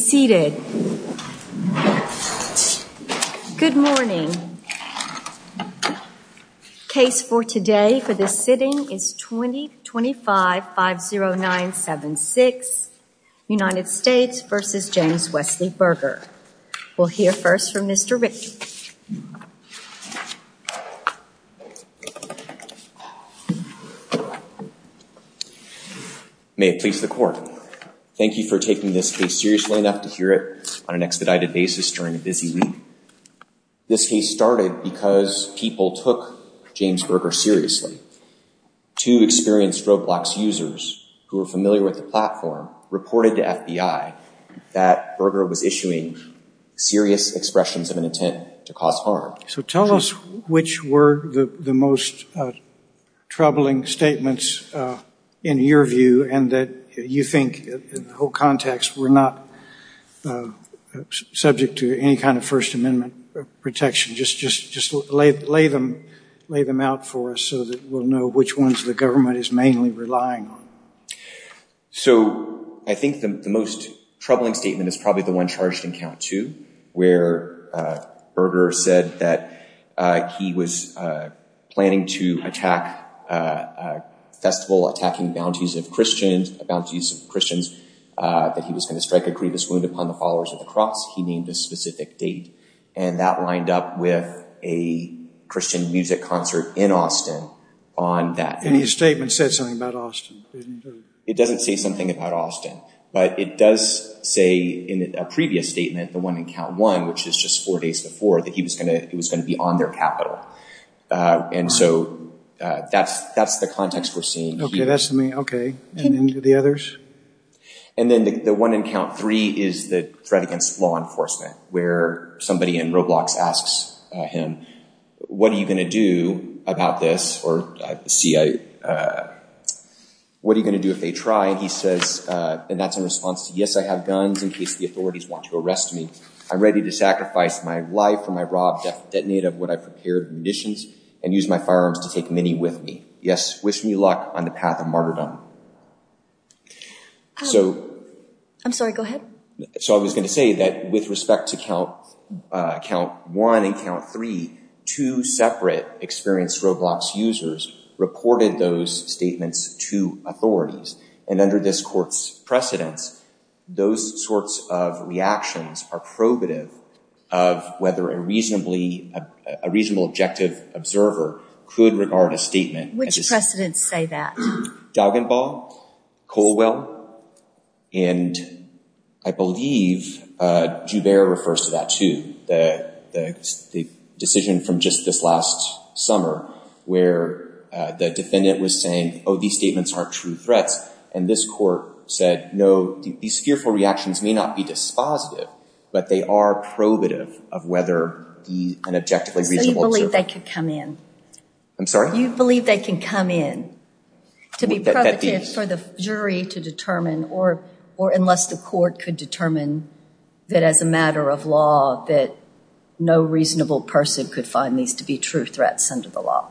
seated good morning case for today for this sitting is 20 25 5 0 9 7 6 United States vs. James Wesley Burger we'll hear first from mr. Rickey may it please the floor thank you for taking this case seriously enough to hear it on an expedited basis during a busy week this case started because people took James Berger seriously to experienced Roblox users who were familiar with the platform reported to FBI that Berger was issuing serious expressions of an intent to cause harm so tell us which were the the most troubling statements in your view and that you think the whole context were not subject to any kind of First Amendment protection just just just lay lay them lay them out for us so that we'll know which ones the government is mainly relying on so I think the most troubling statement is probably the one charged in count to where burger said that he was planning to attack festival attacking bounties of Christians about these Christians that he was going to strike a grievous wound upon the followers of the cross he named a specific date and that lined up with a Christian music concert in Austin on that any statement said something about Austin it doesn't say something about Austin but it does say in a previous statement the one in count one which is just four days before that he was going to it was going to be on their capital and so that's that's the context we're okay that's me okay and the others and then the one in count three is the threat against law enforcement where somebody in roblox asks him what are you going to do about this or see I what are you going to do if they try and he says and that's in response to yes I have guns in case the authorities want to arrest me I'm ready to sacrifice my life for my robbed detonate of what I prepared missions and use my firearms to take many with me yes wish me luck on the path of martyrdom so I'm sorry go ahead so I was going to say that with respect to count count one and count three two separate experienced roblox users reported those statements to authorities and under this courts precedents those sorts of reactions are probative of whether a reasonably a reasonable objective observer could regard a statement which precedents say that dog and ball Colwell and I believe Jubeir refers to that to the decision from just this last summer where the defendant was saying oh these statements aren't true threats and this court said no these fearful reactions may not be dispositive but they are probative of whether an objectively reasonable they could come in I'm sorry you believe they can come in to be for the jury to determine or or unless the court could determine that as a matter of law that no reasonable person could find these to be true threats under the law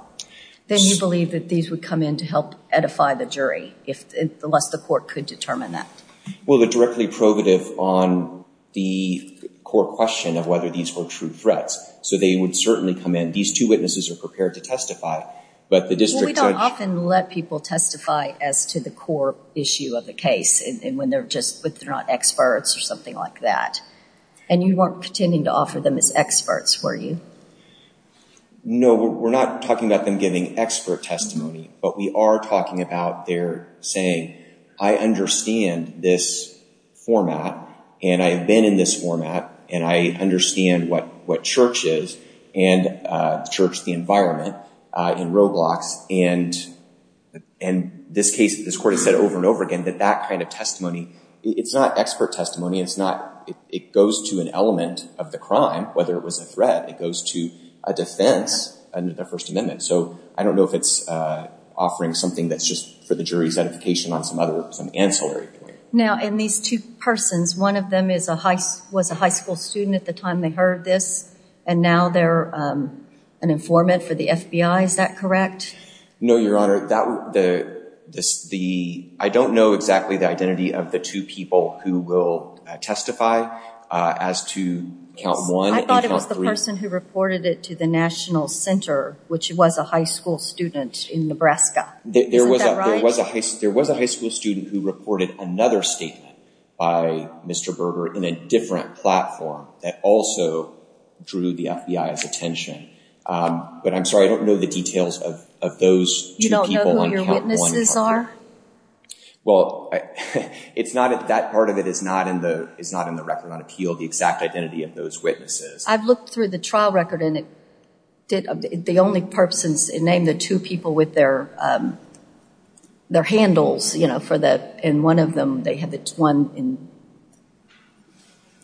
then you believe that these would come in to help edify the jury if the less the court could determine that well the directly probative on the core question of whether these were true threats so they would certainly come in these two witnesses are prepared to testify but the district often let people testify as to the core issue of the case and when they're just but they're not experts or something like that and you weren't pretending to offer them as experts were you know we're not talking about them giving expert testimony but we are talking about their saying I understand this format and I have been in this format and I understand what what church is and church the environment in roadblocks and and this case this court has said over and over again that that kind of testimony it's not expert testimony it's not it goes to an element of the crime whether it was a threat it was to a defense under the First Amendment so I don't know if it's offering something that's just for the jury's edification on some other some ancillary now in these two persons one of them is a heist was a high school student at the time they heard this and now they're an informant for the FBI is that correct no your honor that the the I don't know exactly the identity of the two people who will testify as to count one I thought it was the person who reported it to the National Center which was a high school student in Nebraska there was a there was a heist there was a high school student who reported another statement by mr. Berger in a different platform that also drew the FBI's attention but I'm sorry I don't know the details of those you don't that part of it is not in the it's not in the record on appeal the exact identity of those witnesses I've looked through the trial record and it did the only perpsons in name the two people with their their handles you know for that in one of them they had the one in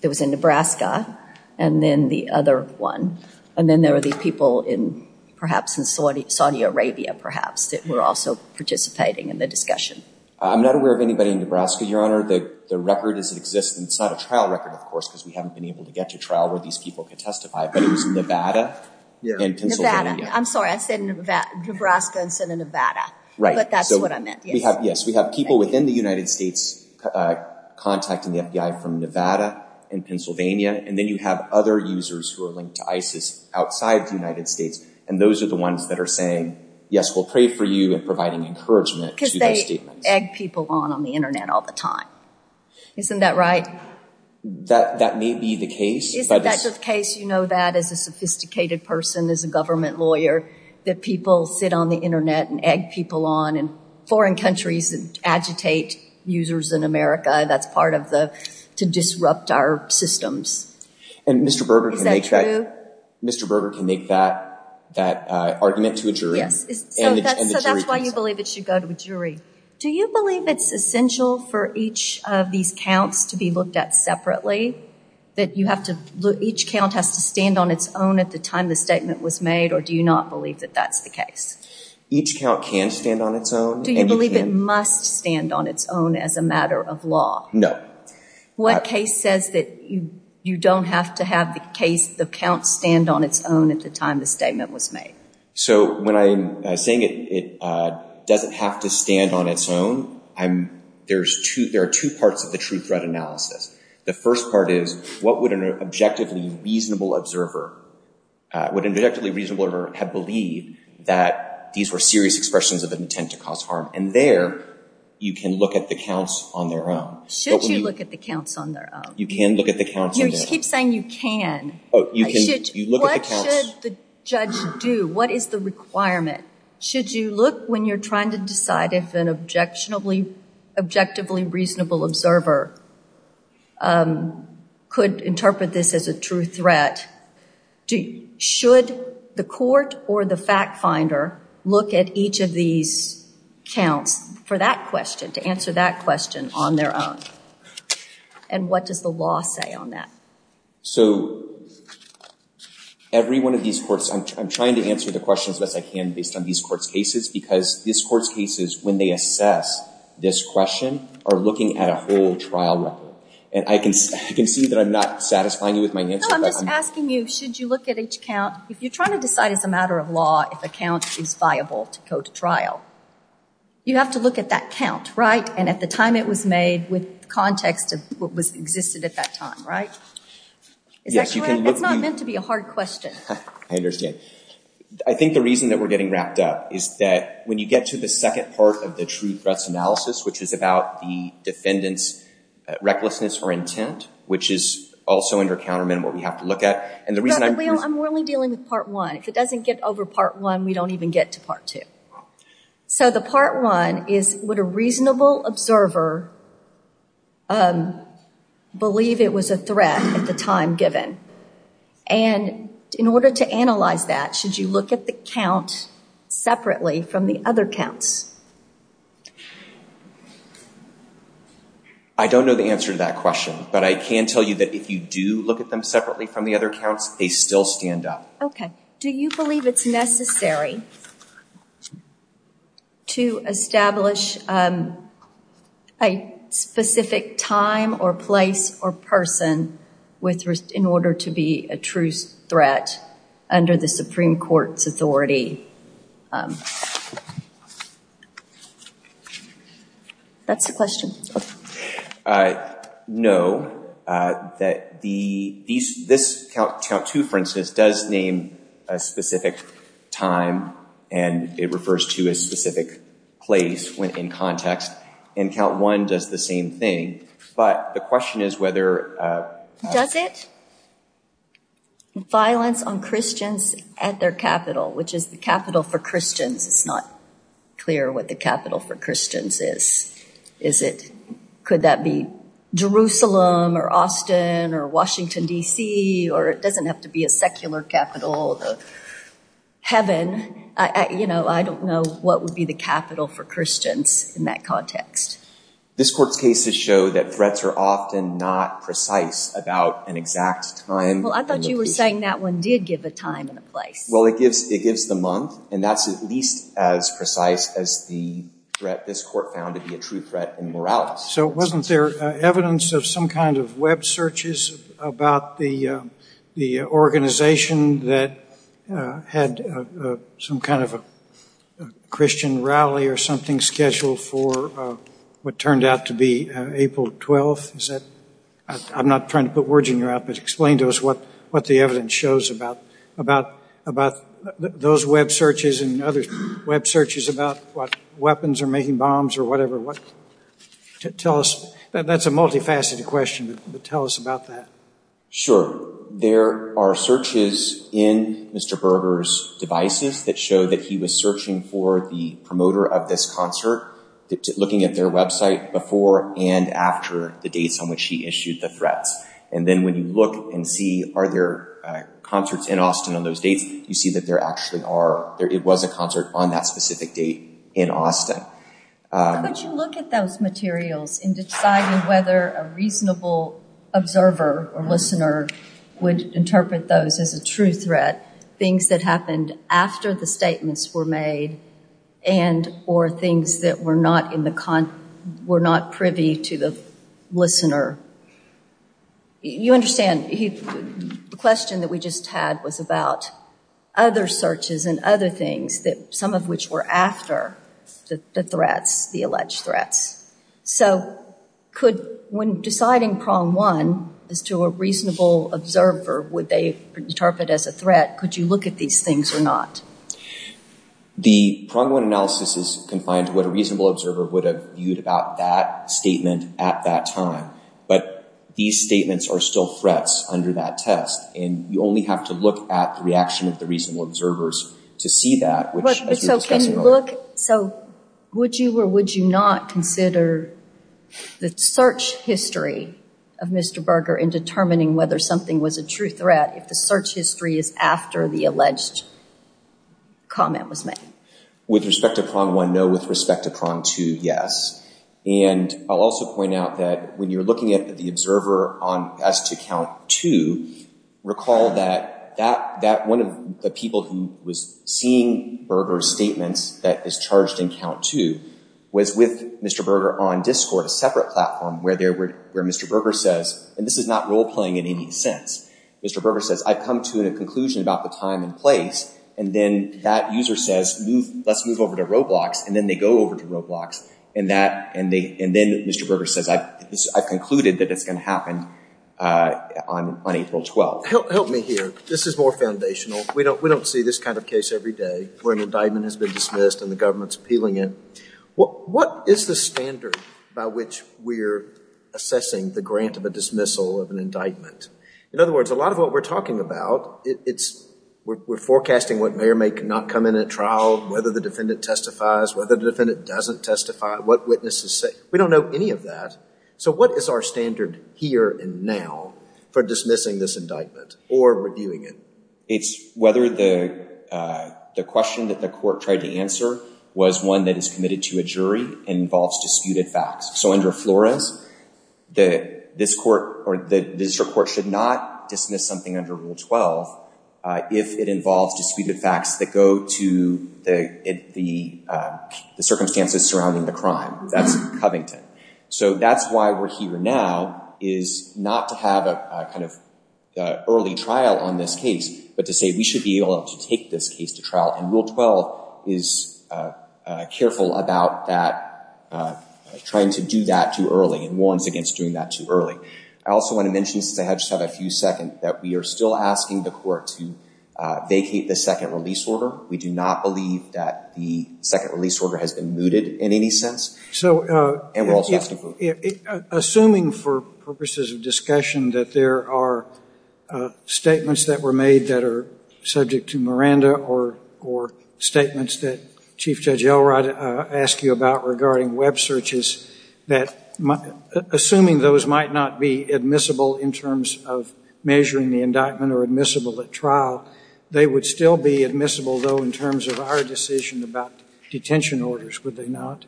it was in Nebraska and then the other one and then there were these people in perhaps in Saudi Saudi Arabia perhaps that were also participating in the discussion I'm not aware of anybody in Nebraska your honor that the record is it exist and it's not a trial record of course because we haven't been able to get to trial where these people can testify but it was in Nevada I'm sorry I said that Nebraska instead of Nevada right but that's what I meant we have yes we have people within the United States contacting the FBI from Nevada and Pennsylvania and then you have other users who are linked to ISIS outside the United States and those are the ones that are saying yes we'll pray for you and providing encouragement because they people on on the internet all the time isn't that right that that may be the case but that's a case you know that as a sophisticated person as a government lawyer that people sit on the internet and egg people on and foreign countries and agitate users in America that's part of the to disrupt our systems and mr. Berger can make sure mr. Berger can make that that argument to a jury that's why do you believe it's essential for each of these counts to be looked at separately that you have to each count has to stand on its own at the time the statement was made or do you not believe that that's the case each count can stand on its own do you believe it must stand on its own as a matter of law no what case says that you you don't have to have the case the count stand on its own at the time the statement was made so when I'm saying it it doesn't have to stand on its own I'm there's two there are two parts of the true threat analysis the first part is what would an objectively reasonable observer would inductively reasonable or have believed that these were serious expressions of an intent to cause harm and there you can look at the counts on their own should you look at the counts on their own you can look at the count you keep saying you can oh you can you look at the judge do what is the requirement should you look when you're trying to decide if an objectionably objectively reasonable observer could interpret this as a true threat do you should the court or the fact finder look at each of these counts for that question to answer that question on their own and what does the law say on that so every one of these courts I'm trying to answer the questions as I can based on these courts cases because this court's cases when they assess this question are looking at a whole trial record and I can see that I'm not satisfying you with my name I'm just asking you should you look at each count if you're trying to decide as a matter of law if a count is viable to go to trial you have to look at that count right and at the time it was made with context of what was existed at that time I think the reason that we're getting wrapped up is that when you get to the second part of the true threats analysis which is about the defendants recklessness or intent which is also under countermeasure what we have to look at and the reason I'm really dealing with part one if it doesn't get over part one we don't even get to part two so the part one is what a reasonable observer believe it was a threat at the time given and in order to analyze that should you look at the count separately from the other counts I don't know the answer to that question but I can tell you that if you do look at them separately from the other counts they still stand up okay do you believe it's necessary to establish a specific time or place or person with risk in order to be a truce threat under the Supreme Court's authority that's the question I know that the count two for instance does name a specific time and it refers to a specific place when in context and count one does the same thing but the question is whether does it violence on Christians at their capital which is the capital for Christians it's not clear what the capital for Christians is is it could that be Jerusalem or Austin or Washington DC or it doesn't have to be a secular capital heaven I you know I don't know what would be the capital for Christians in that context this court's cases show that threats are often not precise about an exact time well I thought you were saying that one did give a time and a place well it gives it gives the month and that's at least as precise as the threat this court found to be a true threat and morale so it wasn't there evidence of some kind of web searches about the the organization that had some kind of a Christian rally or something scheduled for what turned out to be April 12th is that I'm not trying to put words in your outfit explain to us what what the evidence shows about about about those web searches and other web searches about what weapons are making bombs or whatever what to tell us that's a multifaceted question but tell us about that sure there are searches in mr. burgers devices that show that he was searching for the promoter of this concert looking at their website before and after the dates on which he issued the threats and then when you look and see are there concerts in Austin on those dates you see that there actually are there it was a concert on that specific date in Austin but you look at those materials in deciding whether a reasonable observer or listener would interpret those as a true threat things that happened after the statements were made and or things that were not in the con were not privy to the listener you understand the question that we just had was about other searches and other things that some of which were after the threats the alleged threats so could when deciding prong one is to a reasonable observer would they interpret as a threat could you look at these things or not the prong one analysis is confined to what a reasonable observer would have viewed about that statement at that time but these statements are still threats under that test and you only have to look at the reaction of the reasonable observers to see that so can you look so would you or would you not consider the search history of mr. burger in determining whether something was a true threat if the search history is after the alleged comment was made with respect to prong one no with respect to prong two yes and I'll also point out that when you're looking at the observer on as to count to recall that that that one of the people who was seeing burgers statements that is charged in count to was with mr. burger on discord a separate platform where there were where mr. burger says and this is not role-playing in any sense mr. burger says I've come to a conclusion about the time and place and then that user says move let's move over to roblox and then they go over to roblox and that and they and then mr. burger says I concluded that it's going to happen on April 12th help me here this is more foundational we don't we don't see this kind of case every day where an indictment has been dismissed and the government's appealing it what what is the standard by which we're assessing the grant of a dismissal of an indictment in other words a lot of what we're talking about it's we're forecasting what may or may cannot come in at trial whether the defendant testifies whether the defendant doesn't testify what witnesses say we don't know any of that so what is our standard here and now for dismissing this indictment or reviewing it it's whether the the question that the court tried to answer was one that is committed to a jury involves disputed facts so under Flores the this court or the district court should not dismiss something under rule 12 if it involves disputed facts that go to the the the circumstances surrounding the crime that's Covington so that's why we're here now is not to have a kind of early trial on this case but to say we should be able to take this case to trial and rule 12 is careful about that trying to do that too early and warns against doing that too early I also want to mention since I just have a few second that we are still asking the court to vacate the second release order we do not believe that the second release order has been mooted in any sense so and we're also assuming for purposes of discussion that there are statements that were made that are subject to Miranda or or statements that Chief Judge Elrod asked you about regarding web searches that assuming those might not be admissible in terms of measuring the indictment or admissible at trial they would still be admissible though in terms of our decision about detention orders would they not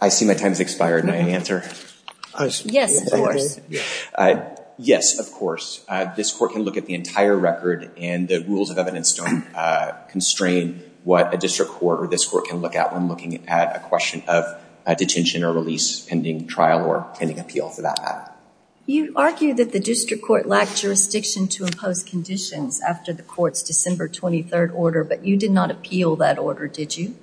I see my time has expired my answer yes yes of course this court can look at the entire record and the rules of evidence don't constrain what a district court or this court can look at I'm looking at a question of a detention or release pending trial or pending appeal for that you argue that the district court lacked jurisdiction to impose conditions after the courts December 23rd order but you did not appeal that order did you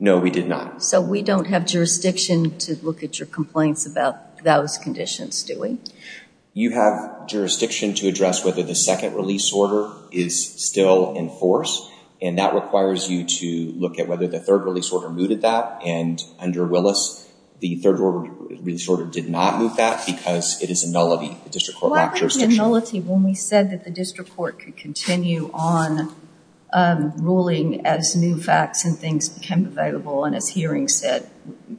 know we did not so we don't have jurisdiction to look at your complaints about those conditions doing you have jurisdiction to address whether the second release order is still in force and that requires you to look at whether the third release order mooted that and under Willis the third order really sort of did not move that because it is a nullity district court not just a nullity when we said that the district court could continue on ruling as new facts and things became available and as hearing said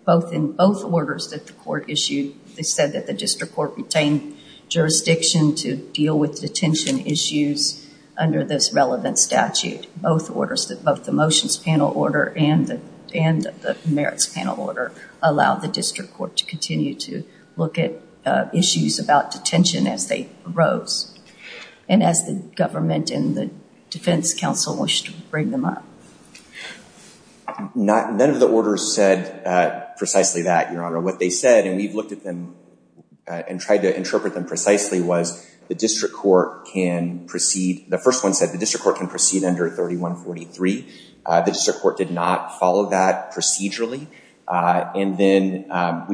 both in both orders that the court issued they said that the district court retained jurisdiction to deal with detention issues under this relevant statute both orders that both the motions panel order and and the merits panel order allowed the district court to continue to look at issues about detention as they rose and as the government and the defense counsel wish to bring them up not none of the orders said precisely that your honor what they said and we've looked at them and tried to interpret them precisely was the district court can proceed the first one said the district court can proceed under 3143 the district court did not follow that procedurally and then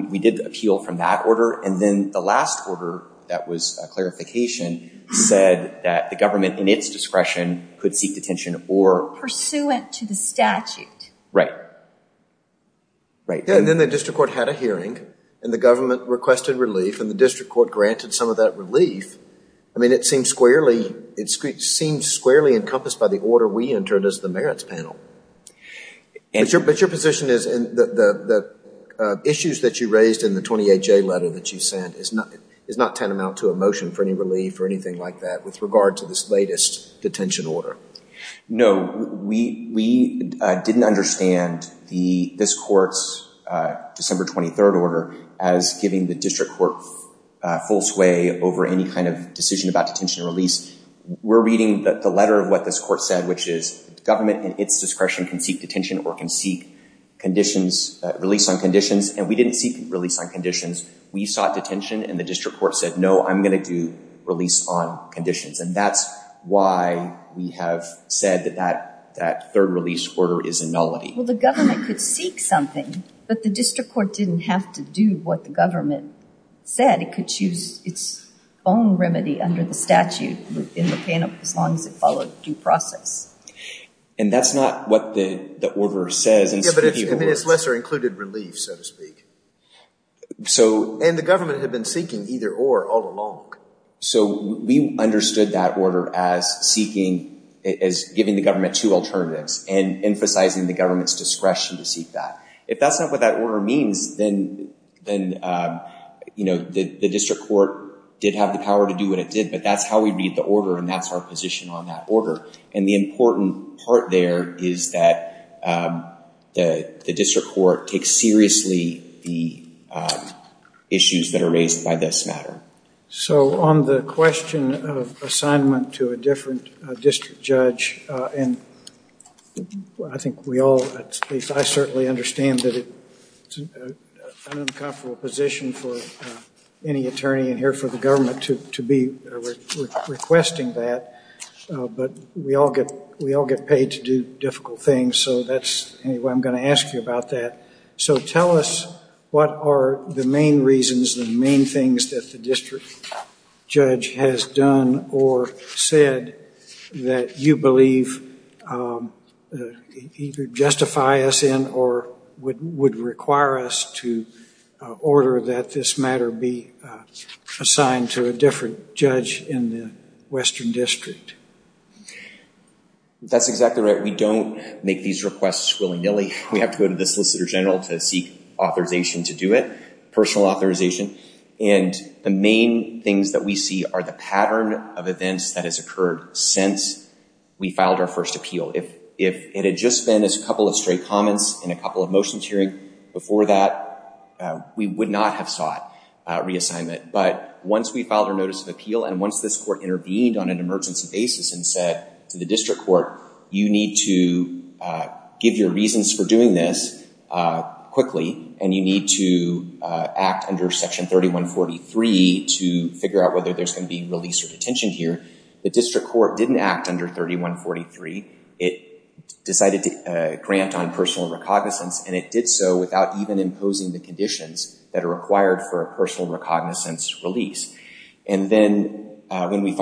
we did appeal from that order and then the last order that was clarification said that the government in its discretion could seek detention or pursuant to the statute right right then the district court had a hearing and the government requested relief and the district court granted some of that relief I mean it seems squarely it seems squarely encompassed by the order we entered as the merits panel and your position is in the issues that you raised in the 28 J letter that you sent is nothing is not tantamount to a motion for any relief or anything like that with regard to this latest detention order no we didn't understand the this courts December 23rd order as giving the court full sway over any kind of decision about detention release we're reading the letter of what this court said which is government in its discretion can seek detention or can seek conditions release on conditions and we didn't seek release on conditions we sought detention and the district court said no I'm gonna do release on conditions and that's why we have said that that that third release order is a nullity well the government could seek something but the district court didn't have to do what the government said it could choose its own remedy under the statute in the panel as long as it followed due process and that's not what the order says it's lesser included relief so to speak so and the government had been seeking either or all along so we understood that order as seeking as giving the government two alternatives and emphasizing the government's discretion to seek that if that's not what that order means then then you know the the district court did have the power to do what it did but that's how we read the order and that's our position on that order and the important part there is that the the district court takes seriously the issues that are raised by this matter so on the question of assignment to a different district judge and I think we all at least I certainly understand that it's an uncomfortable position for any attorney in here for the government to be requesting that but we all get we all get paid to do difficult things so that's anyway I'm going to ask you about that so tell us what are the main reasons the main things that the judge has done or said that you believe either justify us in or would would require us to order that this matter be assigned to a different judge in the Western District that's exactly right we don't make these requests willy-nilly we have to go to the Solicitor General to seek authorization to do it personal authorization and the main things that we see are the pattern of events that has occurred since we filed our first appeal if if it had just been as a couple of straight comments in a couple of motions hearing before that we would not have sought reassignment but once we filed a notice of appeal and once this court intervened on an emergency basis and said to the district court you need to give your reasons for doing this quickly and you need to act under section 3143 to figure out whether there's going to be released or detention here the district court didn't act under 3143 it decided to grant on personal recognizance and it did so without even imposing the conditions that are required for a personal recognizance release and then when we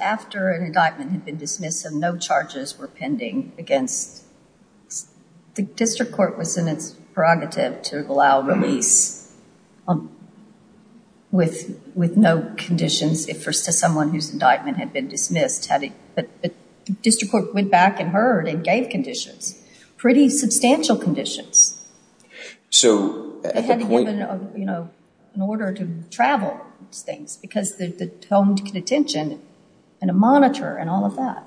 after an indictment had been dismissed and no charges were pending against the district court was in its prerogative to allow release with with no conditions if for someone whose indictment had been dismissed had it but the district court went back and heard and gave conditions pretty substantial conditions so you know in order to travel things because the home detention and a monitor and all of that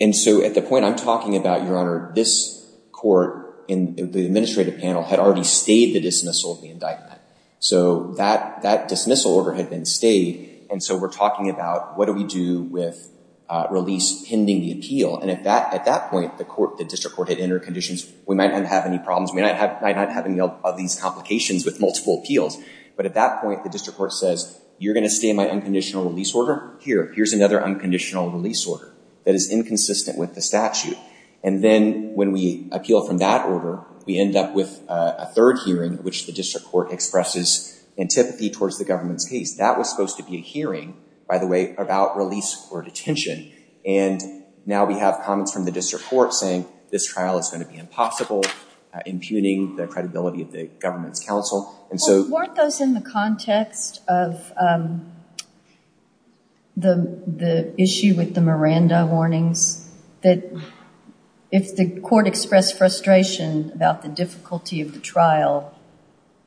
and so at the point I'm talking about your honor this court in the administrative panel had already stayed the dismissal of the indictment so that that dismissal order had been stayed and so we're talking about what do we do with release pending the appeal and if that at that point the court the district court had entered conditions we might not have any problems we might have any of these complications with multiple appeals but at that point the district court says you're gonna stay in my unconditional release order here here's another unconditional release order that is inconsistent with the statute and then when we appeal from that order we end up with a third hearing which the district court expresses antipathy towards the government's case that was supposed to be a hearing by the way about release or detention and now we have comments from the district court saying this trial is going to be impossible impugning the credibility of the government's counsel and so weren't those in the context of the the issue with the Miranda warnings that if the court expressed frustration about the difficulty of the trial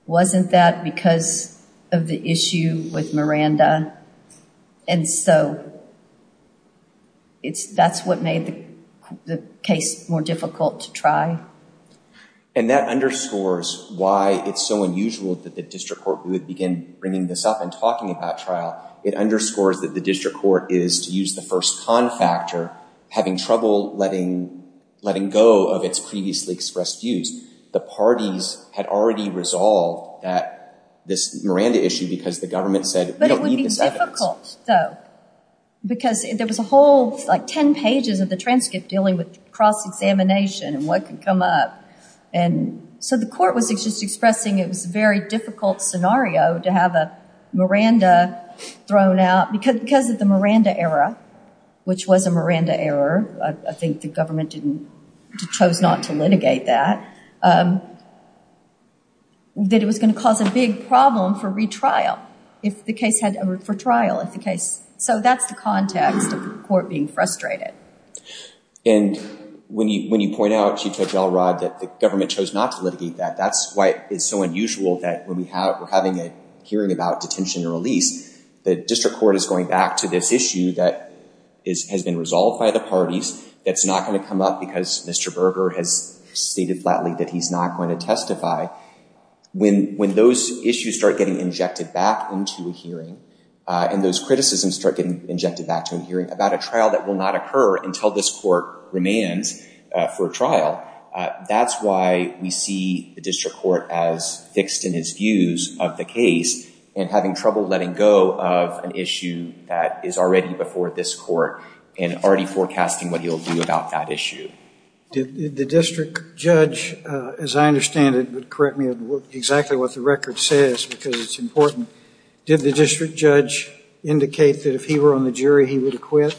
wasn't that because of the issue with Miranda and so it's that's what made the case more difficult to try and that underscores why it's so unusual that the district court would begin bringing this up and talking about trial it underscores that the district court is to use the first con factor having trouble letting letting go of its previously expressed views the parties had already resolved that this Miranda issue because the government said because there was a whole like ten pages of the transcript dealing with cross-examination and what could come up and so the court was just expressing it was a very difficult scenario to have a Miranda thrown out because because of the Miranda error which was a Miranda error I think the government didn't chose not to litigate that that it was going to cause a big problem for retrial if the case had for trial if the case so that's the context of the court being frustrated and when you when you point out Chief Judge Elrod that the government chose not to litigate that that's why it's so unusual that when we have we're having a hearing about detention and release the district court is going back to this issue that is has been resolved by the parties that's not going to come up because mr. Berger has stated flatly that he's not going to testify when when those issues start getting injected back into a hearing and those criticisms start getting injected back to a hearing about a trial that will not occur until this court remains for a trial that's why we see the district court as fixed in his views of the case and having trouble letting go of an issue that is already before this court and already forecasting what he'll do about that issue did the district judge as I understand it would correct me exactly what the record says did the district judge indicate that if he were on the jury he would acquit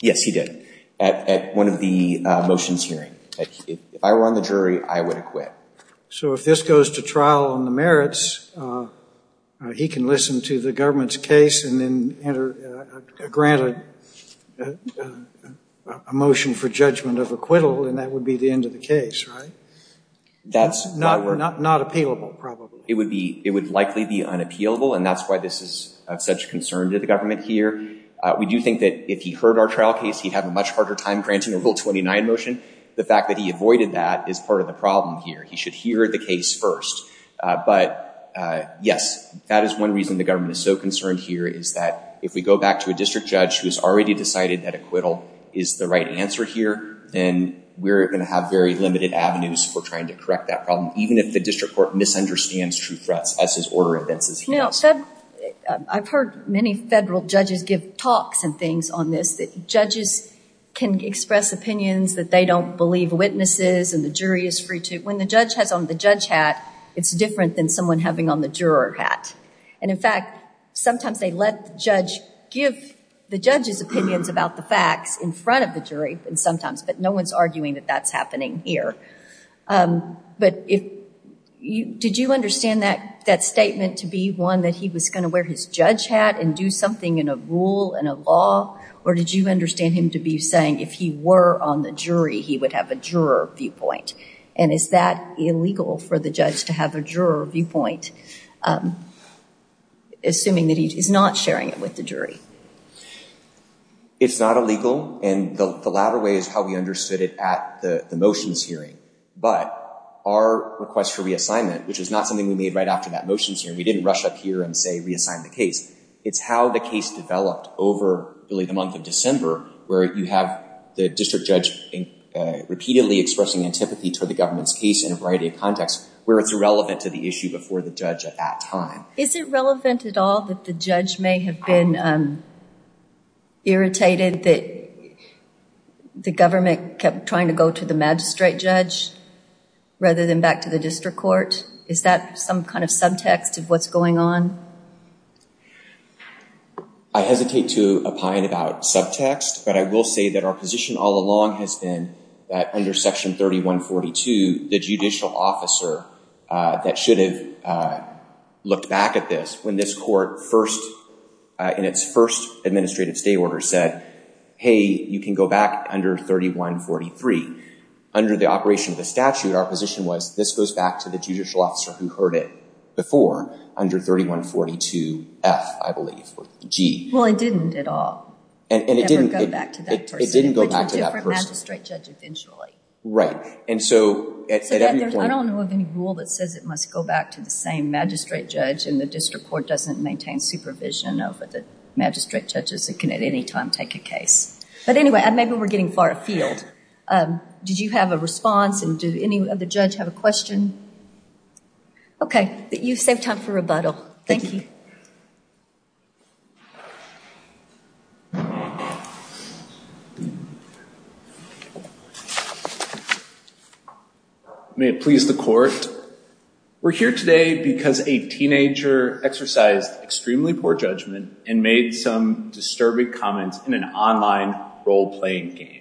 yes he did at one of the motions hearing if I were on the jury I would acquit so if this goes to trial on the merits he can listen to the government's case and then enter granted a motion for judgment of acquittal and that would be the end of that's not not not appealable probably it would be it would likely be unappealable and that's why this is of such concern to the government here we do think that if he heard our trial case he'd have a much harder time granting a rule 29 motion the fact that he avoided that is part of the problem here he should hear the case first but yes that is one reason the government is so concerned here is that if we go back to a district judge who's already decided that acquittal is the right answer here then we're going to have very limited avenues for trying to correct that problem even if the district court misunderstands true threats as his order advances you know said I've heard many federal judges give talks and things on this that judges can express opinions that they don't believe witnesses and the jury is free to when the judge has on the judge hat it's different than someone having on the juror hat and in sometimes they let the judge give the judge's opinions about the facts in front of the jury and sometimes but no one's arguing that that's happening here but if you did you understand that that statement to be one that he was going to wear his judge hat and do something in a rule and a law or did you understand him to be saying if he were on the jury he would have a juror viewpoint and is that illegal for the judge to have a juror viewpoint assuming that he is not sharing it with the jury it's not illegal and the latter way is how we understood it at the the motions hearing but our request for reassignment which is not something we made right after that motions here we didn't rush up here and say reassign the case it's how the case developed over really the month of December where you have the district judge repeatedly expressing antipathy to the government's case in writing context where it's irrelevant to the issue before the judge at that time is it relevant at all that the judge may have been irritated that the government kept trying to go to the magistrate judge rather than back to the district court is that some kind of subtext of what's going on I hesitate to opine about subtext but I will say that our position all along has been that under section 3142 the judicial officer that should have looked back at this when this court first in its first administrative stay order said hey you can go back under 3143 under the operation of the statute our position was this goes back to the judicial officer who heard it before under 3142 F I believe G well I didn't at all and it didn't go back to that person right and so I don't know of any rule that says it must go back to the same magistrate judge and the district court doesn't maintain supervision over the magistrate judges that can at any time take a case but anyway and maybe we're getting far afield did you have a response and do any of the judge have a question okay that you saved time for rebuttal thank you may it please the court we're here today because a teenager exercised extremely poor judgment and made some disturbing comments in an online role playing game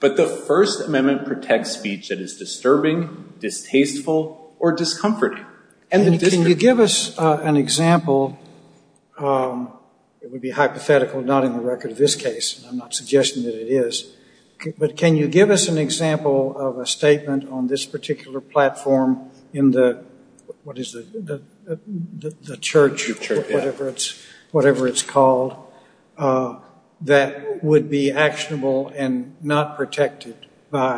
but the First Amendment protects speech that is disturbing distasteful or discomforting and then you give us an example it would be hypothetical not in the record of this case I'm not suggesting that it is but can you give us an example of a statement on this particular platform in the what is the church whatever it's whatever it's called that would be actionable and not protected by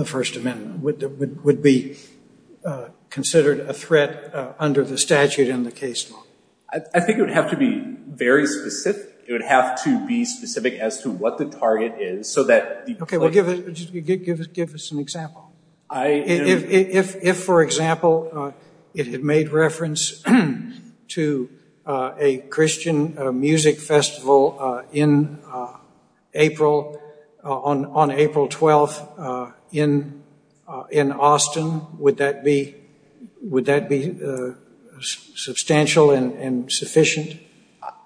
the First Amendment would be considered a threat under the statute in the case I think you have to be very specific it would have to be specific as to what the target is so that you can give us an example I if for example it had made reference to a Christian music festival in April on on April 12th in in Austin would that be would that be substantial and sufficient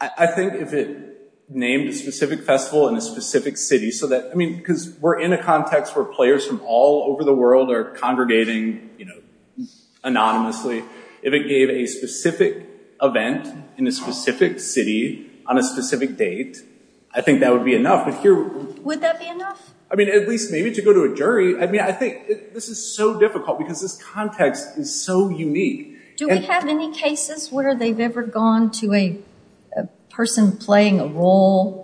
I think if it named a specific festival in a specific city so that I mean because we're in a context where players from all over the world are congregating you know anonymously if it gave a specific event in a specific city on a specific date I think that would be enough but here I mean at least maybe to go to a jury I mean I think this is so difficult because this context is so unique do we have any cases where they've ever gone to a person playing a role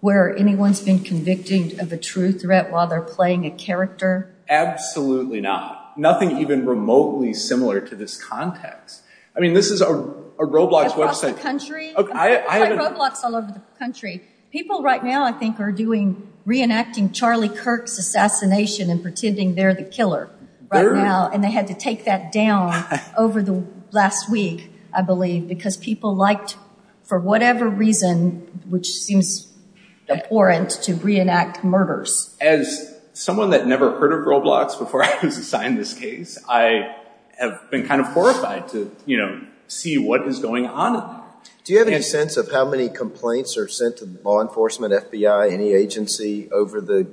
where anyone's been convicted of a true threat while they're playing a character absolutely not nothing even remotely similar to this context I mean this is a Roblox website country people right now I think are doing reenacting Charlie Kirk's assassination and pretending they're the killer right now and they had to take that down over the last week I believe because people liked for whatever reason which seems abhorrent to reenact murders as someone that never heard of Roblox before I was assigned this case I have been kind of horrified to you know see what is going on do you have any sense of how many complaints are sent to the law enforcement FBI any agency over the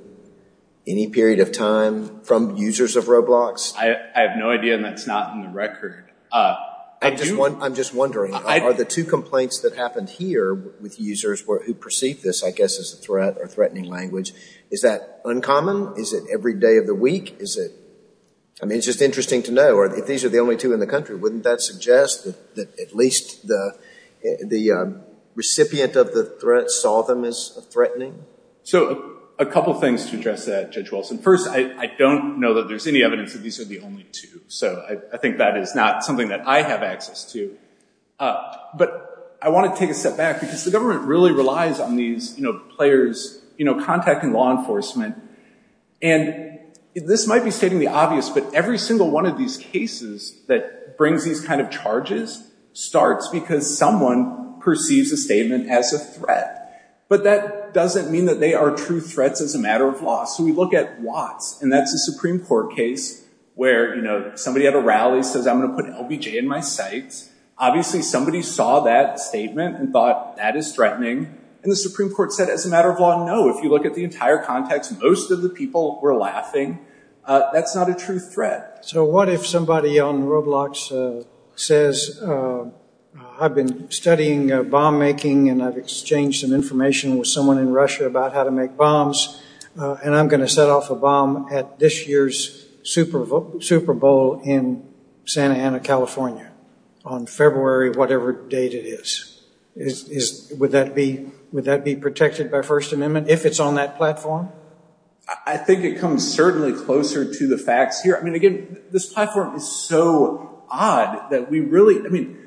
any period of time from users of Roblox I have no idea that's not in the record I just want I'm just wondering are the two complaints that happened here with users who perceive this I guess is a threat or threatening language is that uncommon is it every day of the week is it I mean it's just interesting to know or if these are the only two in the country wouldn't that suggest that at least the the recipient of the threat saw them as threatening so a couple things to address that judge Wilson first I don't know that there's any evidence that these are the only two so I think that is not something that I have access to but I want to take a step back because the government really relies on these you know players you know contacting law enforcement and this might be stating the obvious but every single one of these cases that brings these kind of charges starts because someone perceives a statement as a threat but that doesn't mean that they are true threats as a matter of law so we look at Watts and that's a Supreme Court case where you know somebody had a rally says I'm gonna put LBJ in my sights obviously somebody saw that statement and thought that is threatening and the Supreme Court said as a matter of law no if you look at the entire context most of the people were laughing that's not a true threat so what if somebody on Roblox says I've been studying bomb making and I've exchanged some information with someone in Russia about how to make bombs and I'm going to set off a bomb at this year's Super Bowl Super Bowl in Santa Ana California on February whatever date it is is would that be would that be protected by First Amendment if it's on that platform I think it comes certainly closer to the facts here I mean again this platform is so odd that we really I mean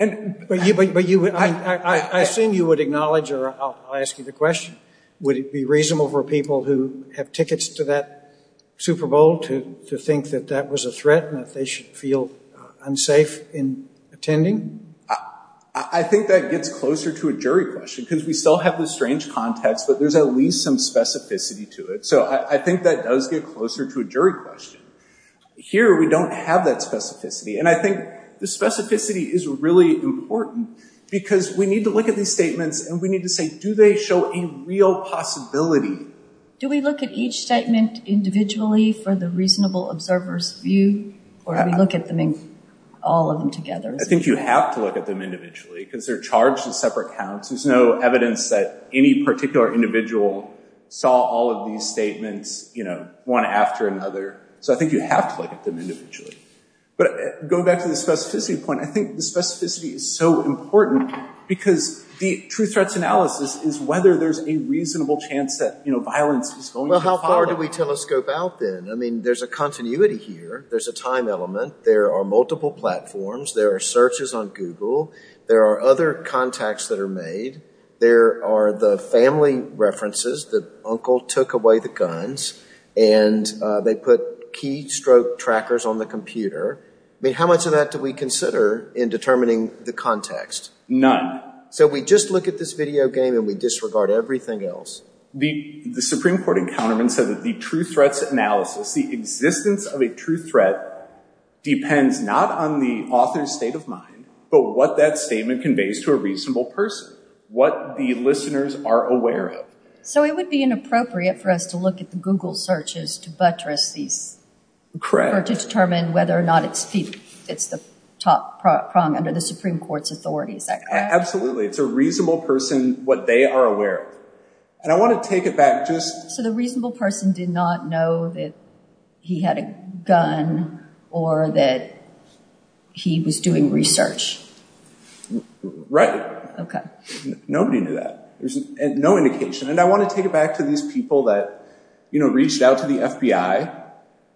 and but you but you but you I assume you would acknowledge or I'll ask you the question would it be reasonable for people who have tickets to that Super Bowl to think that that was a threat and that they should feel unsafe in attending I think that gets closer to a jury question because we still have this strange context but there's at least some specificity to it so I think that does get closer to a jury question here we don't have that specificity and I think the specificity is really important because we need to look at these statements and we need to say do they show a real possibility do we look at each statement individually for the reasonable observers view or I look at them in all of them together I think you have to look at them individually because they're charged in separate counts there's no evidence that any particular individual saw all of these statements you know one after another so I think you have to look at them individually but going back to the specificity point I think the specificity is so important because the truth threats analysis is whether there's a reasonable chance that you know violence well how far do we telescope out then I mean there's a continuity here there's a time element there are multiple platforms there are searches on Google there are other contacts that are made there are the family references that uncle took away the guns and they put keystroke trackers on the computer I mean how much of that do we consider in determining the context none so we just look at this video game and we disregard everything else the the Supreme Court encounter and said that the truth threats analysis the existence of a true threat depends not on the author's state of mind but what that statement conveys to a reasonable person what the listeners are aware of so it would be inappropriate for us to look at the Google searches to buttress these crap to determine whether or not it's people it's the top prong under the Supreme Court's authority is that absolutely it's a reasonable person what they are aware and I want to take it just so the reasonable person did not know that he had a gun or that he was doing research right okay nobody knew that there's no indication and I want to take it back to these people that you know reached out to the FBI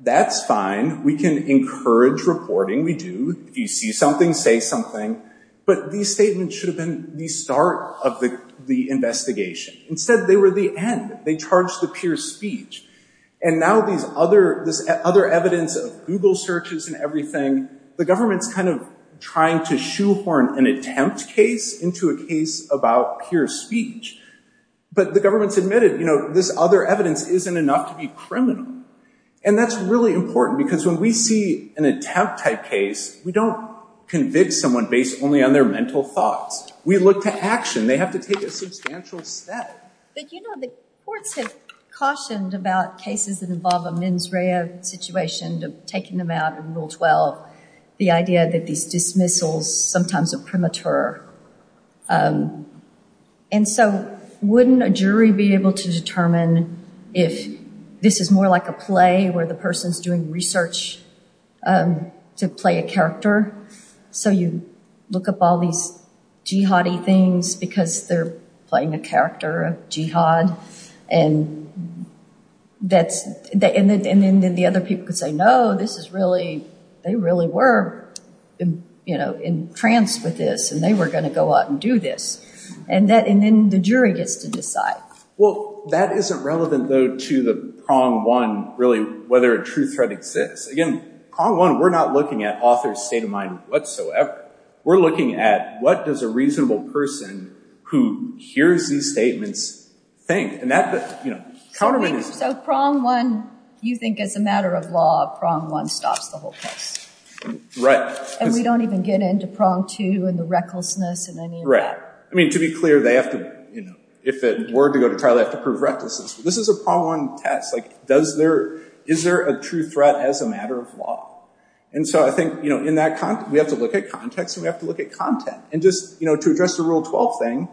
that's fine we can encourage reporting we do if you see something say something but these statements should have been the start of the the investigation instead they were the end they charge the pure speech and now these other this other evidence of Google searches and everything the government's kind of trying to shoehorn an attempt case into a case about pure speech but the government's admitted you know this other evidence isn't enough to be criminal and that's really important because when we see an attempt type case we don't convict someone based only on their mental thoughts we look to action they have to take a substantial step but you know the courts have cautioned about cases that involve a mens rea situation of taking them out in rule 12 the idea that these dismissals sometimes are premature and so wouldn't a jury be able to determine if this is more like a play where the person's doing research to play a character so you look up all these jihadi things because they're playing a character of jihad and that's they and then the other people could say no this is really they really were you know in trance with this and they were gonna go out and do this and that and then the jury gets to decide well that isn't relevant though to the prong one really whether a true threat exists again on one we're not looking at state of mind whatsoever we're looking at what does a reasonable person who hears these statements think and that you know countermeasures so prong one you think as a matter of law prong one stops the whole case right and we don't even get into prong two and the recklessness and I mean right I mean to be clear they have to you know if it were to go to trial they have to prove recklessness this is a prong one test like does there is there a true threat as a matter of law and so I think you know in that context we have to look at context we have to look at content and just you know to address the rule 12 thing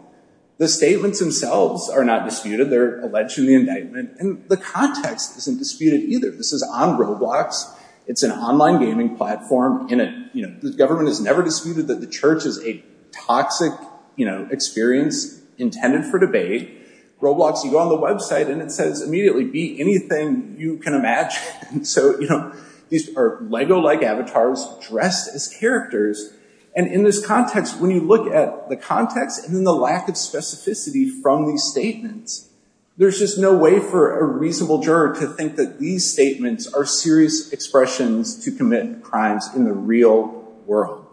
the statements themselves are not disputed they're alleged to the indictment and the context isn't disputed either this is on Roblox it's an online gaming platform in it you know the government has never disputed that the church is a toxic you know experience intended for debate Roblox you go on the website and it says immediately be anything you can imagine so you know these are Lego like avatars dressed as characters and in this context when you look at the context and then the lack of specificity from these statements there's just no way for a reasonable juror to think that these statements are serious expressions to commit crimes in the real world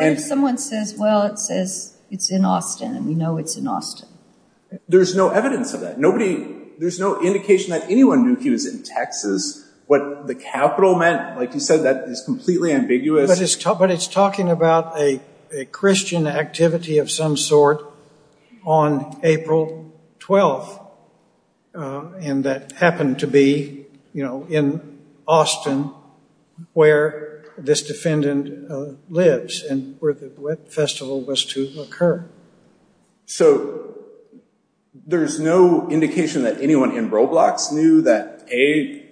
and someone says well it says it's in Austin and we know it's in Austin there's no evidence of that nobody there's no indication that anyone knew he was in what the capital meant like you said that is completely ambiguous but it's tough but it's talking about a Christian activity of some sort on April 12th and that happened to be you know in Austin where this defendant lives and where the festival was to occur so there's no indication that anyone in Roblox knew that a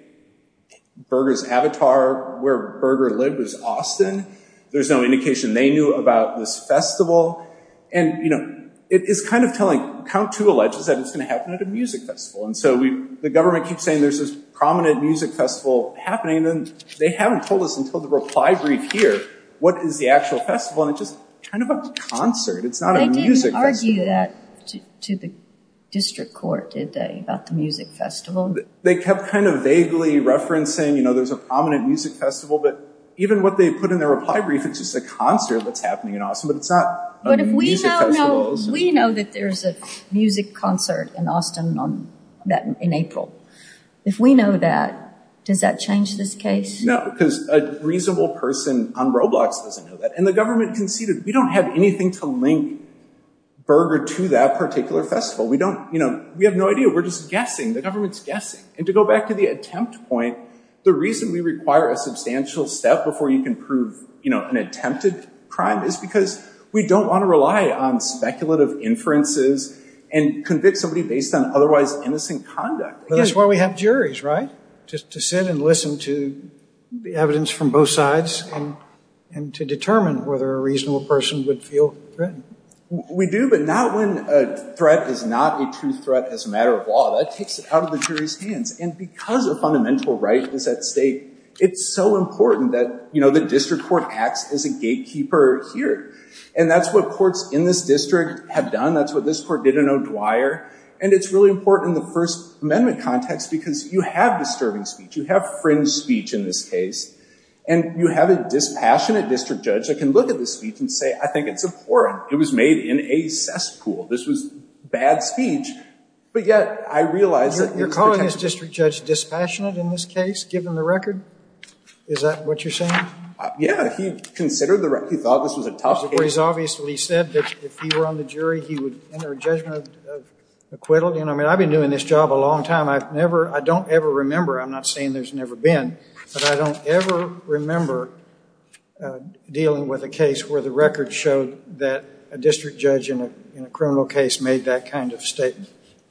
burgers avatar where burger live was Austin there's no indication they knew about this festival and you know it is kind of telling count to alleges that it's gonna happen at a music festival and so we the government keeps saying there's this prominent music festival happening then they haven't told us until the reply brief here what is the actual festival and it just kind of a concert it's not a music argue that to the district court did they about the festival they kept kind of vaguely referencing you know there's a prominent music festival but even what they put in their reply brief it's just a concert that's happening in Austin but it's not but if we know we know that there's a music concert in Austin on that in April if we know that does that change this case no because a reasonable person on roblox doesn't know that and the government conceded we don't have anything to link burger to that particular festival we don't you know we have no idea we're just guessing the government's guessing and to go back to the attempt point the reason we require a substantial step before you can prove you know an attempted crime is because we don't want to rely on speculative inferences and convict somebody based on otherwise innocent conduct that's where we have juries right just to sit and listen to the evidence from both sides and to determine whether a reasonable person would feel we do but not when a threat is not a true threat as a matter of law that takes it out of the jury's hands and because the fundamental right is at stake it's so important that you know the district court acts as a gatekeeper here and that's what courts in this district have done that's what this court didn't know Dwyer and it's really important in the first amendment context because you have disturbing speech you have fringe speech in this case and you have a dispassionate district judge that can look at the speech and say I think it's important it was made in a cesspool this was bad speech but yet I realize that you're calling this district judge dispassionate in this case given the record is that what you're saying yeah he considered the right he thought this was a tough he's obviously said that if you were on the jury he would enter a judgment of acquittal you know I mean I've been doing this job a long time I've never I don't ever remember I'm not saying there's never been but I don't ever remember dealing with a case where the record showed that a district judge in a criminal case made that kind of statement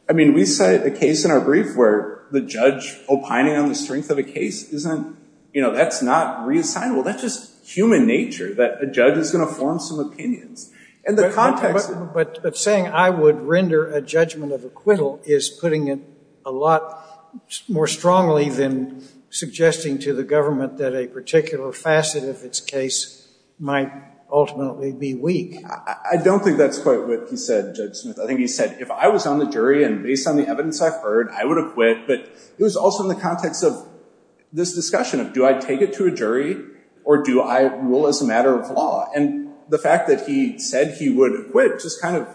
I mean we cited the case in our brief where the judge opining on the strength of a case isn't you know that's not reassignable that's just human nature that a judge is going to form some opinions and the context but saying I would render a judgment of acquittal is putting it a lot more strongly than suggesting to the government that a particular facet of its case might ultimately be weak I don't think that's quite what he said judge Smith I think he said if I was on the jury and based on the evidence I've heard I would acquit but it was also in the context of this discussion of do I take it to a jury or do I rule as a matter of law and the fact that he said he would acquit just kind of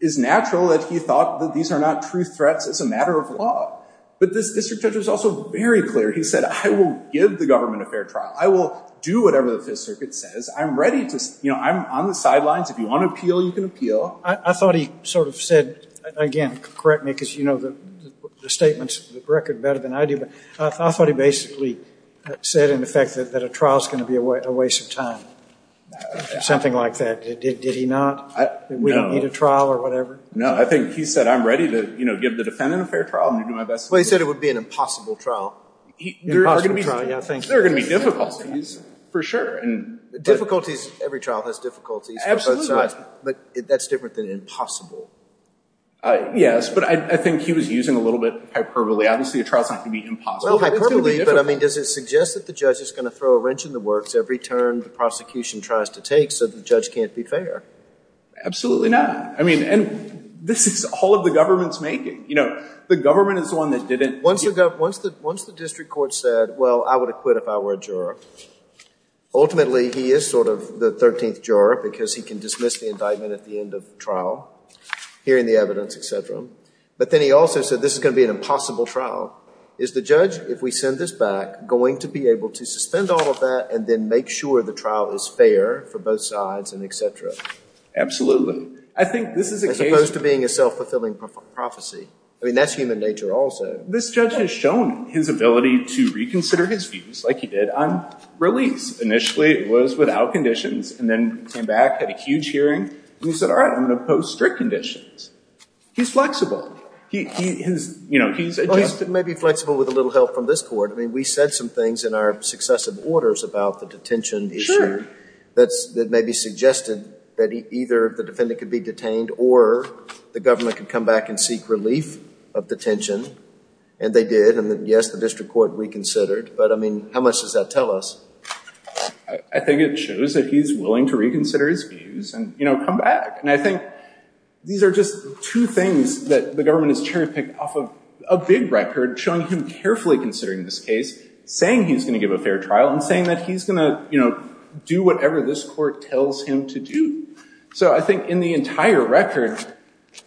is natural that he thought that these are not true threats as a clear he said I will give the government a fair trial I will do whatever the Fifth Circuit says I'm ready to you know I'm on the sidelines if you want to appeal you can appeal I thought he sort of said again correct me because you know the statements record better than I do but I thought he basically said in effect that a trial is going to be a waste of time something like that did he not we don't need a trial or whatever no I think he said I'm ready to you know give the defendant a fair trial you do my best way said it would be an impossible trial I think there are gonna be difficulties for sure and difficulties every trial has difficulties absolutely but that's different than impossible yes but I think he was using a little bit hyperbole obviously a trial is not going to be impossible but I mean does it suggest that the judge is going to throw a wrench in the works every turn the prosecution tries to take so the judge can't be fair absolutely not I mean and this is all of the government's making you know the government is the one that didn't once you've got once that once the district court said well I would have quit if I were a juror ultimately he is sort of the 13th juror because he can dismiss the indictment at the end of trial hearing the evidence etc but then he also said this is going to be an impossible trial is the judge if we send this back going to be able to suspend all of that and then make sure the trial is fair for both sides and etc absolutely I think this is opposed to being a self-fulfilling prophecy I mean that's human nature also this judge has shown his ability to reconsider his views like he did on release initially it was without conditions and then came back had a huge hearing and he said all right I'm gonna post strict conditions he's flexible he is you know he's it may be flexible with a little help from this court I mean we said some things in our successive orders about the detention sure that's that may be the government can come back and seek relief of detention and they did and then yes the district court reconsidered but I mean how much does that tell us I think it shows that he's willing to reconsider his views and you know come back and I think these are just two things that the government is cherry picked off of a big record showing him carefully considering this case saying he's gonna give a fair trial and saying that he's gonna you know do whatever this court tells him to do so I think in the entire record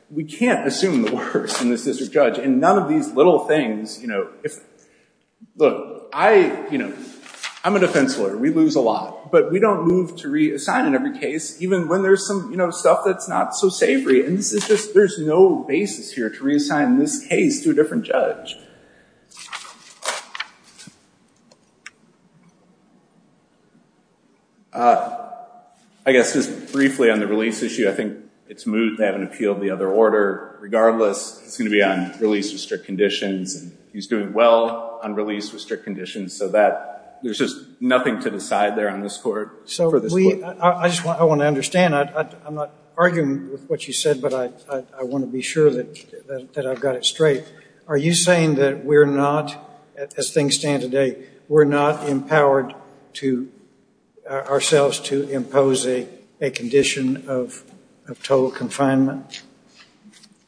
we can't assume the worst in this district judge and none of these little things you know if look I you know I'm a defense lawyer we lose a lot but we don't move to reassign in every case even when there's some you know stuff that's not so savory and this is just there's no basis here to reassign this case to a different judge I guess just briefly on the release issue I think it's moved they haven't appealed the other order regardless it's gonna be on released with strict conditions and he's doing well on release with strict conditions so that there's just nothing to decide there on this court so I just want I want to understand I'm not arguing with what you said but I want to be sure that I've got it straight are you saying that we're not as things stand today we're not empowered to ourselves to impose a condition of total confinement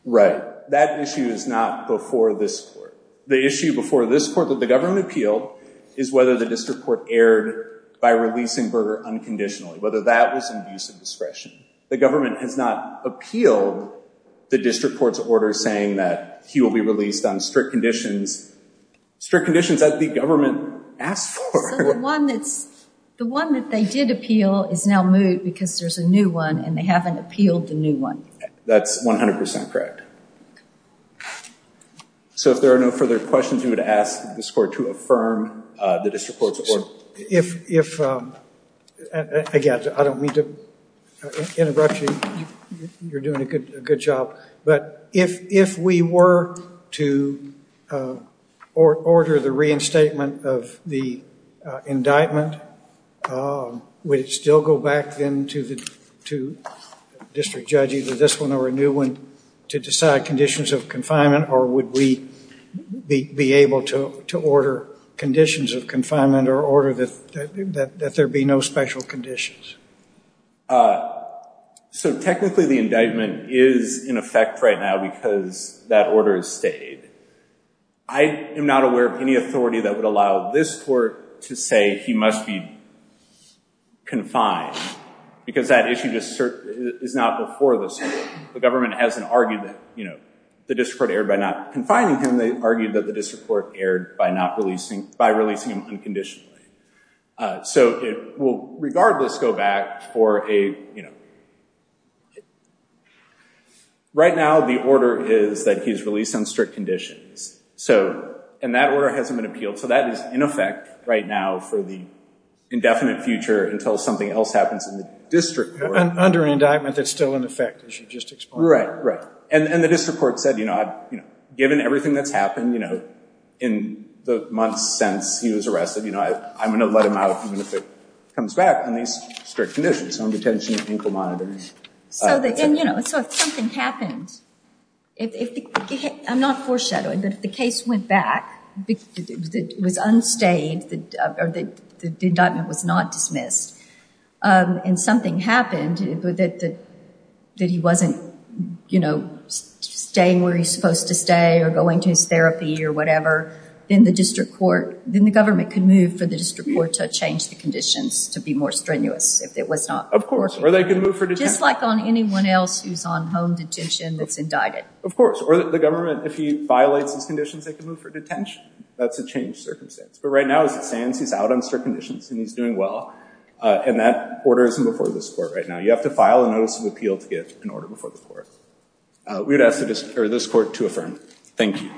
right that issue is not before this court the issue before this court that the government appealed is whether the district court erred by releasing Berger unconditionally whether that was inducing discretion the government has appealed the district court's order saying that he will be released on strict conditions strict conditions that the government asked for one that's the one that they did appeal is now moved because there's a new one and they haven't appealed the new one that's 100% correct so if there are no further questions you would ask the score to affirm the district court's order if if again I don't mean to interrupt you you're doing a good a good job but if if we were to order the reinstatement of the indictment would it still go back then to the to district judge either this one or a new one to decide conditions of confinement or would we be able to order conditions of confinement or order that there be no special conditions so technically the indictment is in effect right now because that order is stayed I am NOT aware of any authority that would allow this court to say he must be confined because that issue just certainly is not before this the government hasn't argued that you know the district air by not confining him they argued that the court aired by not releasing by releasing him unconditionally so it will regardless go back for a you know right now the order is that he's released on strict conditions so and that order hasn't been appealed so that is in effect right now for the indefinite future until something else happens in the district under an indictment that's still in effect as you just explore right right and and the district court said you know I've you everything that's happened you know in the months since he was arrested you know I'm gonna let him out even if it comes back on these strict conditions home detention ankle monitors so that you know so if something happened if I'm not foreshadowing that if the case went back it was unstayed that the indictment was not dismissed and something happened that that he wasn't you know staying where he's supposed to stay or going to his therapy or whatever in the district court then the government could move for the district court to change the conditions to be more strenuous if it was not of course or they can move for just like on anyone else who's on home detention that's indicted of course or the government if he violates his conditions they can move for detention that's a change circumstance but right now as it stands he's out on strict conditions and he's doing well and that order isn't before this court right now you have to file a notice of appeal to get an order before the court we would ask for this court to affirm thank you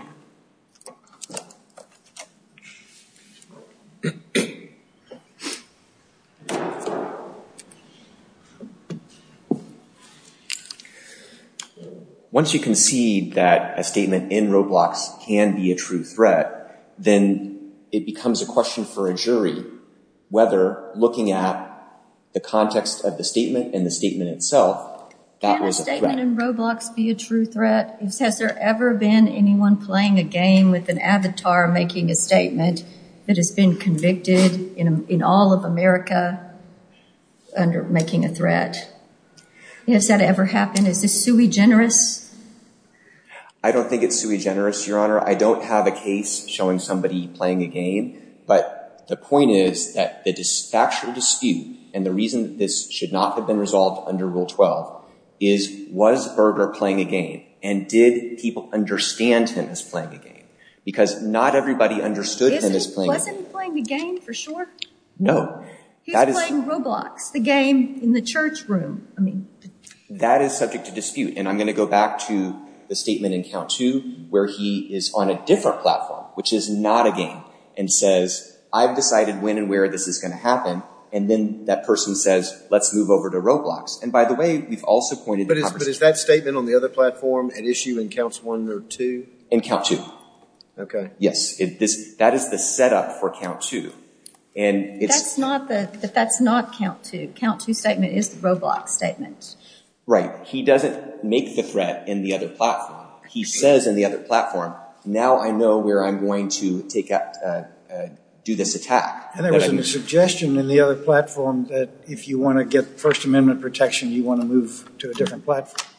once you concede that a statement in roblox can be a true threat then it becomes a question for a jury whether looking at the context of the statement in the statement itself that was a statement in roblox be a true threat has there ever been anyone playing a game with an avatar making a statement that has been convicted in all of America under making a threat yes that ever happened is this sui generis I don't think it's sui generis your honor I don't have a case showing somebody playing a game but the point is that the factual dispute and the reason this should not have been resolved under rule 12 is was Berger playing a game and did people understand him as playing a game because not everybody understood him as playing a game for sure no that is roblox the game in the church room I mean that is subject to dispute and I'm going to go back to the statement in count to where he is on a different platform which is not a game and says I've decided when and where this is going to happen and then that person says let's move over to roblox and by the way we've also pointed but is that statement on the other platform and issue in counts one or two and count you okay yes if this that is the setup for count to and it's not that that's not count to count to statement is the roblox statement right he doesn't make the threat in the other platform he says in the other platform now I know where I'm going to take out do this attack and suggestion in the other platform that if you want to get First Amendment protection you want to move to a different platform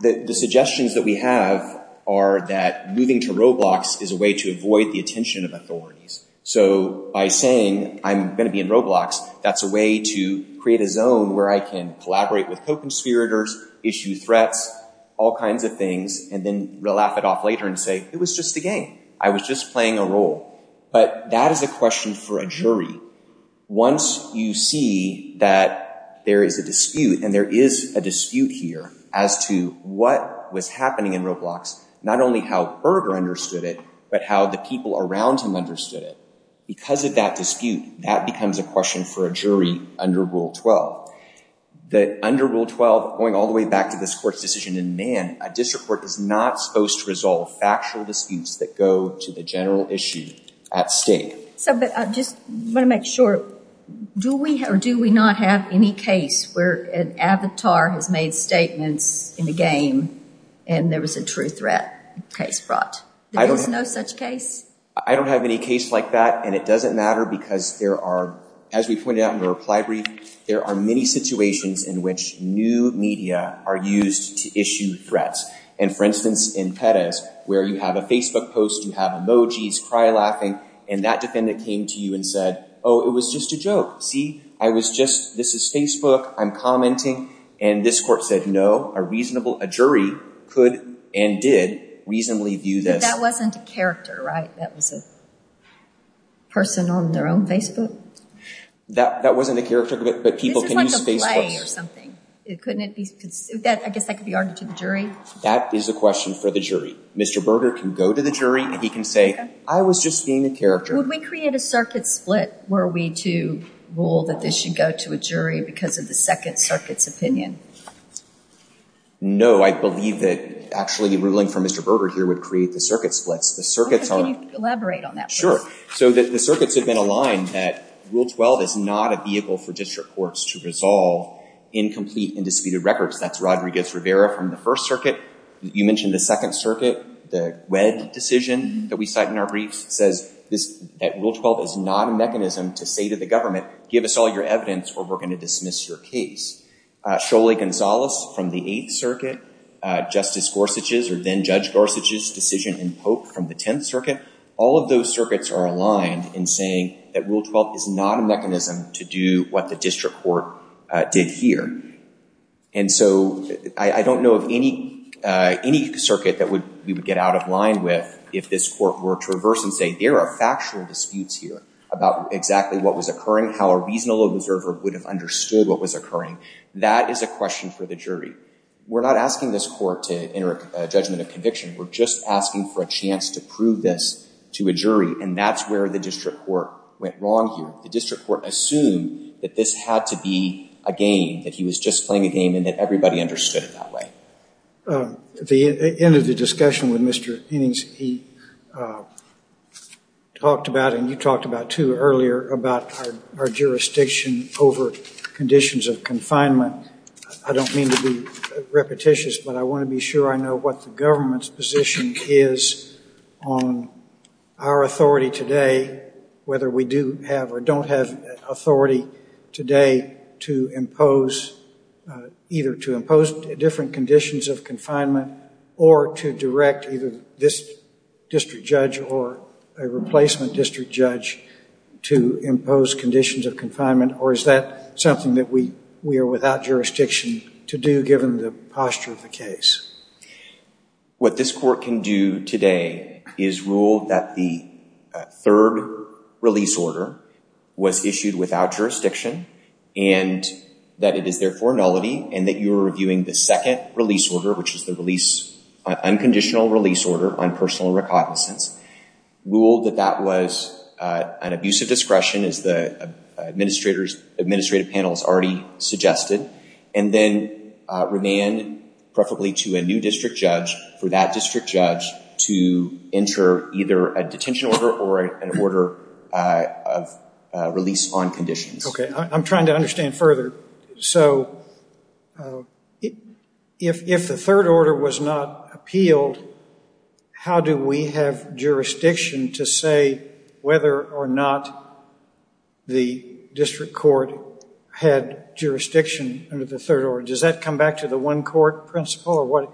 the suggestions that we have are that moving to roblox is a way to avoid the attention of authorities so by saying I'm going to be in roblox that's a way to create a zone where I can collaborate with co-conspirators issue threats all kinds of things and then laugh it off later and say it was just a game I was just playing a role but that is a question for a jury once you see that there is a dispute and there is a dispute here as to what was happening in roblox not only how Berger understood it but how the people around him understood it because of that dispute that becomes a question for a jury under rule 12 that under rule 12 going all the way back to this court's decision in man a district court is not to resolve factual disputes that go to the general issue at stake so but I just want to make sure do we have do we not have any case where an avatar has made statements in the game and there was a true threat case brought I don't know such case I don't have any case like that and it doesn't matter because there are as we pointed out in the reply brief there are many situations in which new media are used to issue threats and for instance in Perez where you have a Facebook post you have emojis cry laughing and that defendant came to you and said oh it was just a joke see I was just this is Facebook I'm commenting and this court said no a reasonable a jury could and did reasonably view this that wasn't a character right that was a person on their own Facebook that that wasn't a character but people can use Facebook or something it couldn't be that I guess that could be argued to the jury that is a question for the jury mr. Berger can go to the jury and he can say I was just being a character we create a circuit split were we to rule that this should go to a jury because of the second circuits opinion no I believe that actually ruling from mr. Berger here would create the circuit splits the circuits aren't elaborate on that sure so that the circuits have been aligned that rule 12 is not a vehicle for district courts to resolve incomplete indisputed records that's Rodriguez Rivera from the First Circuit you mentioned the Second Circuit the wed decision that we cite in our briefs says this rule 12 is not a mechanism to say to the government give us all your evidence or we're going to dismiss your case surely Gonzales from the Eighth Circuit justice Gorsuch's or then judge Gorsuch's decision in Pope from the Tenth Circuit all of those circuits are aligned in saying that rule 12 is not a mechanism to do what the district court did here and so I don't know of any any circuit that would we would get out of line with if this court were to reverse and say there are factual disputes here about exactly what was occurring how a reasonable observer would have understood what was occurring that is a question for the jury we're not asking this court to enter a judgment of conviction we're just asking for a chance to prove this to a jury and that's where the district court went wrong here the district court assumed that this had to be a game that he was just playing a game and that everybody understood it that way the end of the discussion with mr. innings he talked about and you talked about to earlier about our jurisdiction over conditions of confinement I don't mean to be repetitious but I want to be sure I know what the government's position is on our authority today whether we do have or don't have authority today to impose either to impose different conditions of confinement or to direct either this district judge or a replacement district judge to impose conditions of confinement or is that something that we we are without jurisdiction to do given the posture of the case what this court can do today is rule that the third release order was issued without jurisdiction and that it is therefore nullity and that you were reviewing the second release order which is the release unconditional release order on personal recognizance rule that that was an abuse of discretion is the administrators administrative panels already suggested and then remain preferably to a new district judge for that district judge to enter either a detention order or an order of release on conditions okay I'm trying to understand further so if the third order was not appealed how do we have jurisdiction to say whether or not the district court had jurisdiction under the third order does that come back to the one court principle or what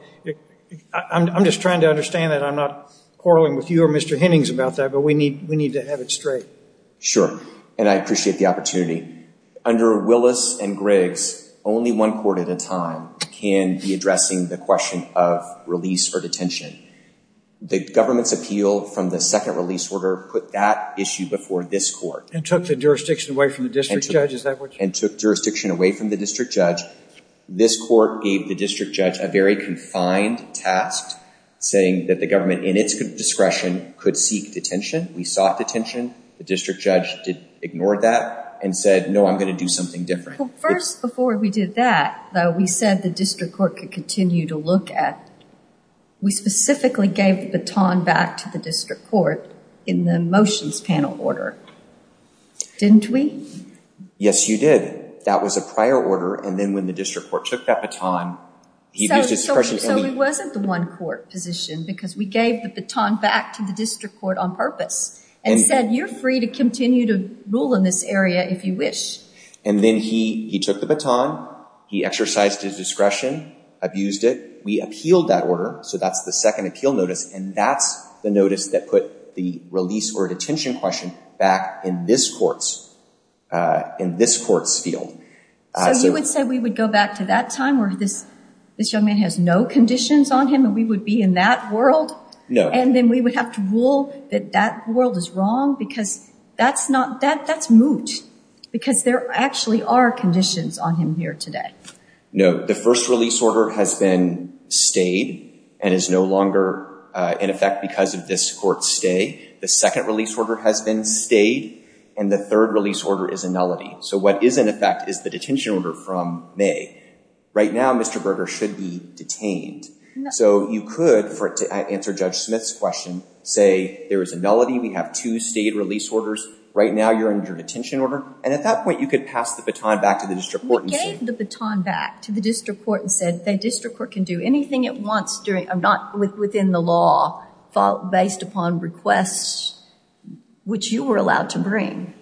I'm just trying to understand that I'm not quarreling with you or mr. Hennings about that but we need we need to have it straight sure and I appreciate the opportunity under Willis and Griggs only one court at a time can be addressing the question of release or detention the government's appeal from the second release order put that issue before this court and took the jurisdiction away from the district judge is that what and took jurisdiction away from the district judge this court gave the district judge a very confined task saying that the government in its discretion could seek detention we sought detention the district judge did ignore that and said no I'm going to do something different first before we did that though we said the district court could continue to look at we specifically gave the baton back to the district court in the motions panel order didn't we yes you did that was a prior order and then when the district court took that baton he just wasn't the one court position because we gave the baton back to the district court on purpose and said you're free to continue to rule in this area if you wish and then he he took the baton he exercised his discretion abused it we appealed that order so that's the second appeal notice and that's the notice that put the release or detention question back in this courts in this courts field so you would say we would go back to that time where this this young man has no conditions on him and we would be in that world no and then we would have to rule that that world is wrong because that's not that that's moot because there actually are conditions on him here today no the first release order has been stayed and is no longer in effect because of this court stay the second release order has been stayed and the third release order is a nullity so what is in effect is the detention order from May right now mr. Berger should be detained so you could for it to answer judge Smith's question say there is a nullity we have two state release orders right now you're in your detention order and at that point you could pass the baton back to the district court and said the district court can do anything it wants during I'm not with within the law fault based upon requests which you were allowed to bring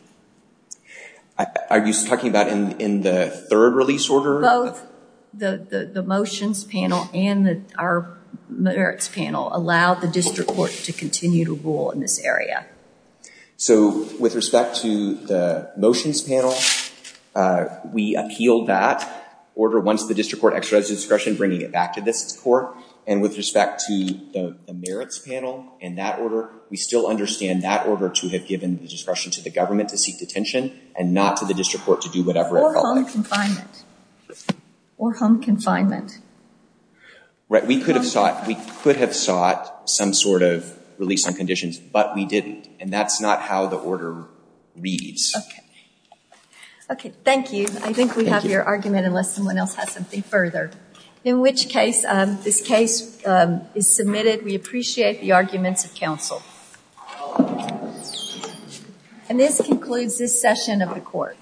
are you talking about in in the third release order both the the motions panel and the our merits panel allowed the district court to continue to rule in this area so with respect to the motions panel we appeal that order once the district court exercise discretion bringing it back to this court and with respect to the merits panel in that order we still understand that order to have given the discretion to the government to seek detention and not to the district court to do whatever or home confinement right we could have sought we could have sought some sort of release on conditions but we didn't and that's not how the order reads okay thank you I think we have your argument unless someone else has something further in which case this case is submitted we appreciate the arguments of counsel and this concludes this session of the court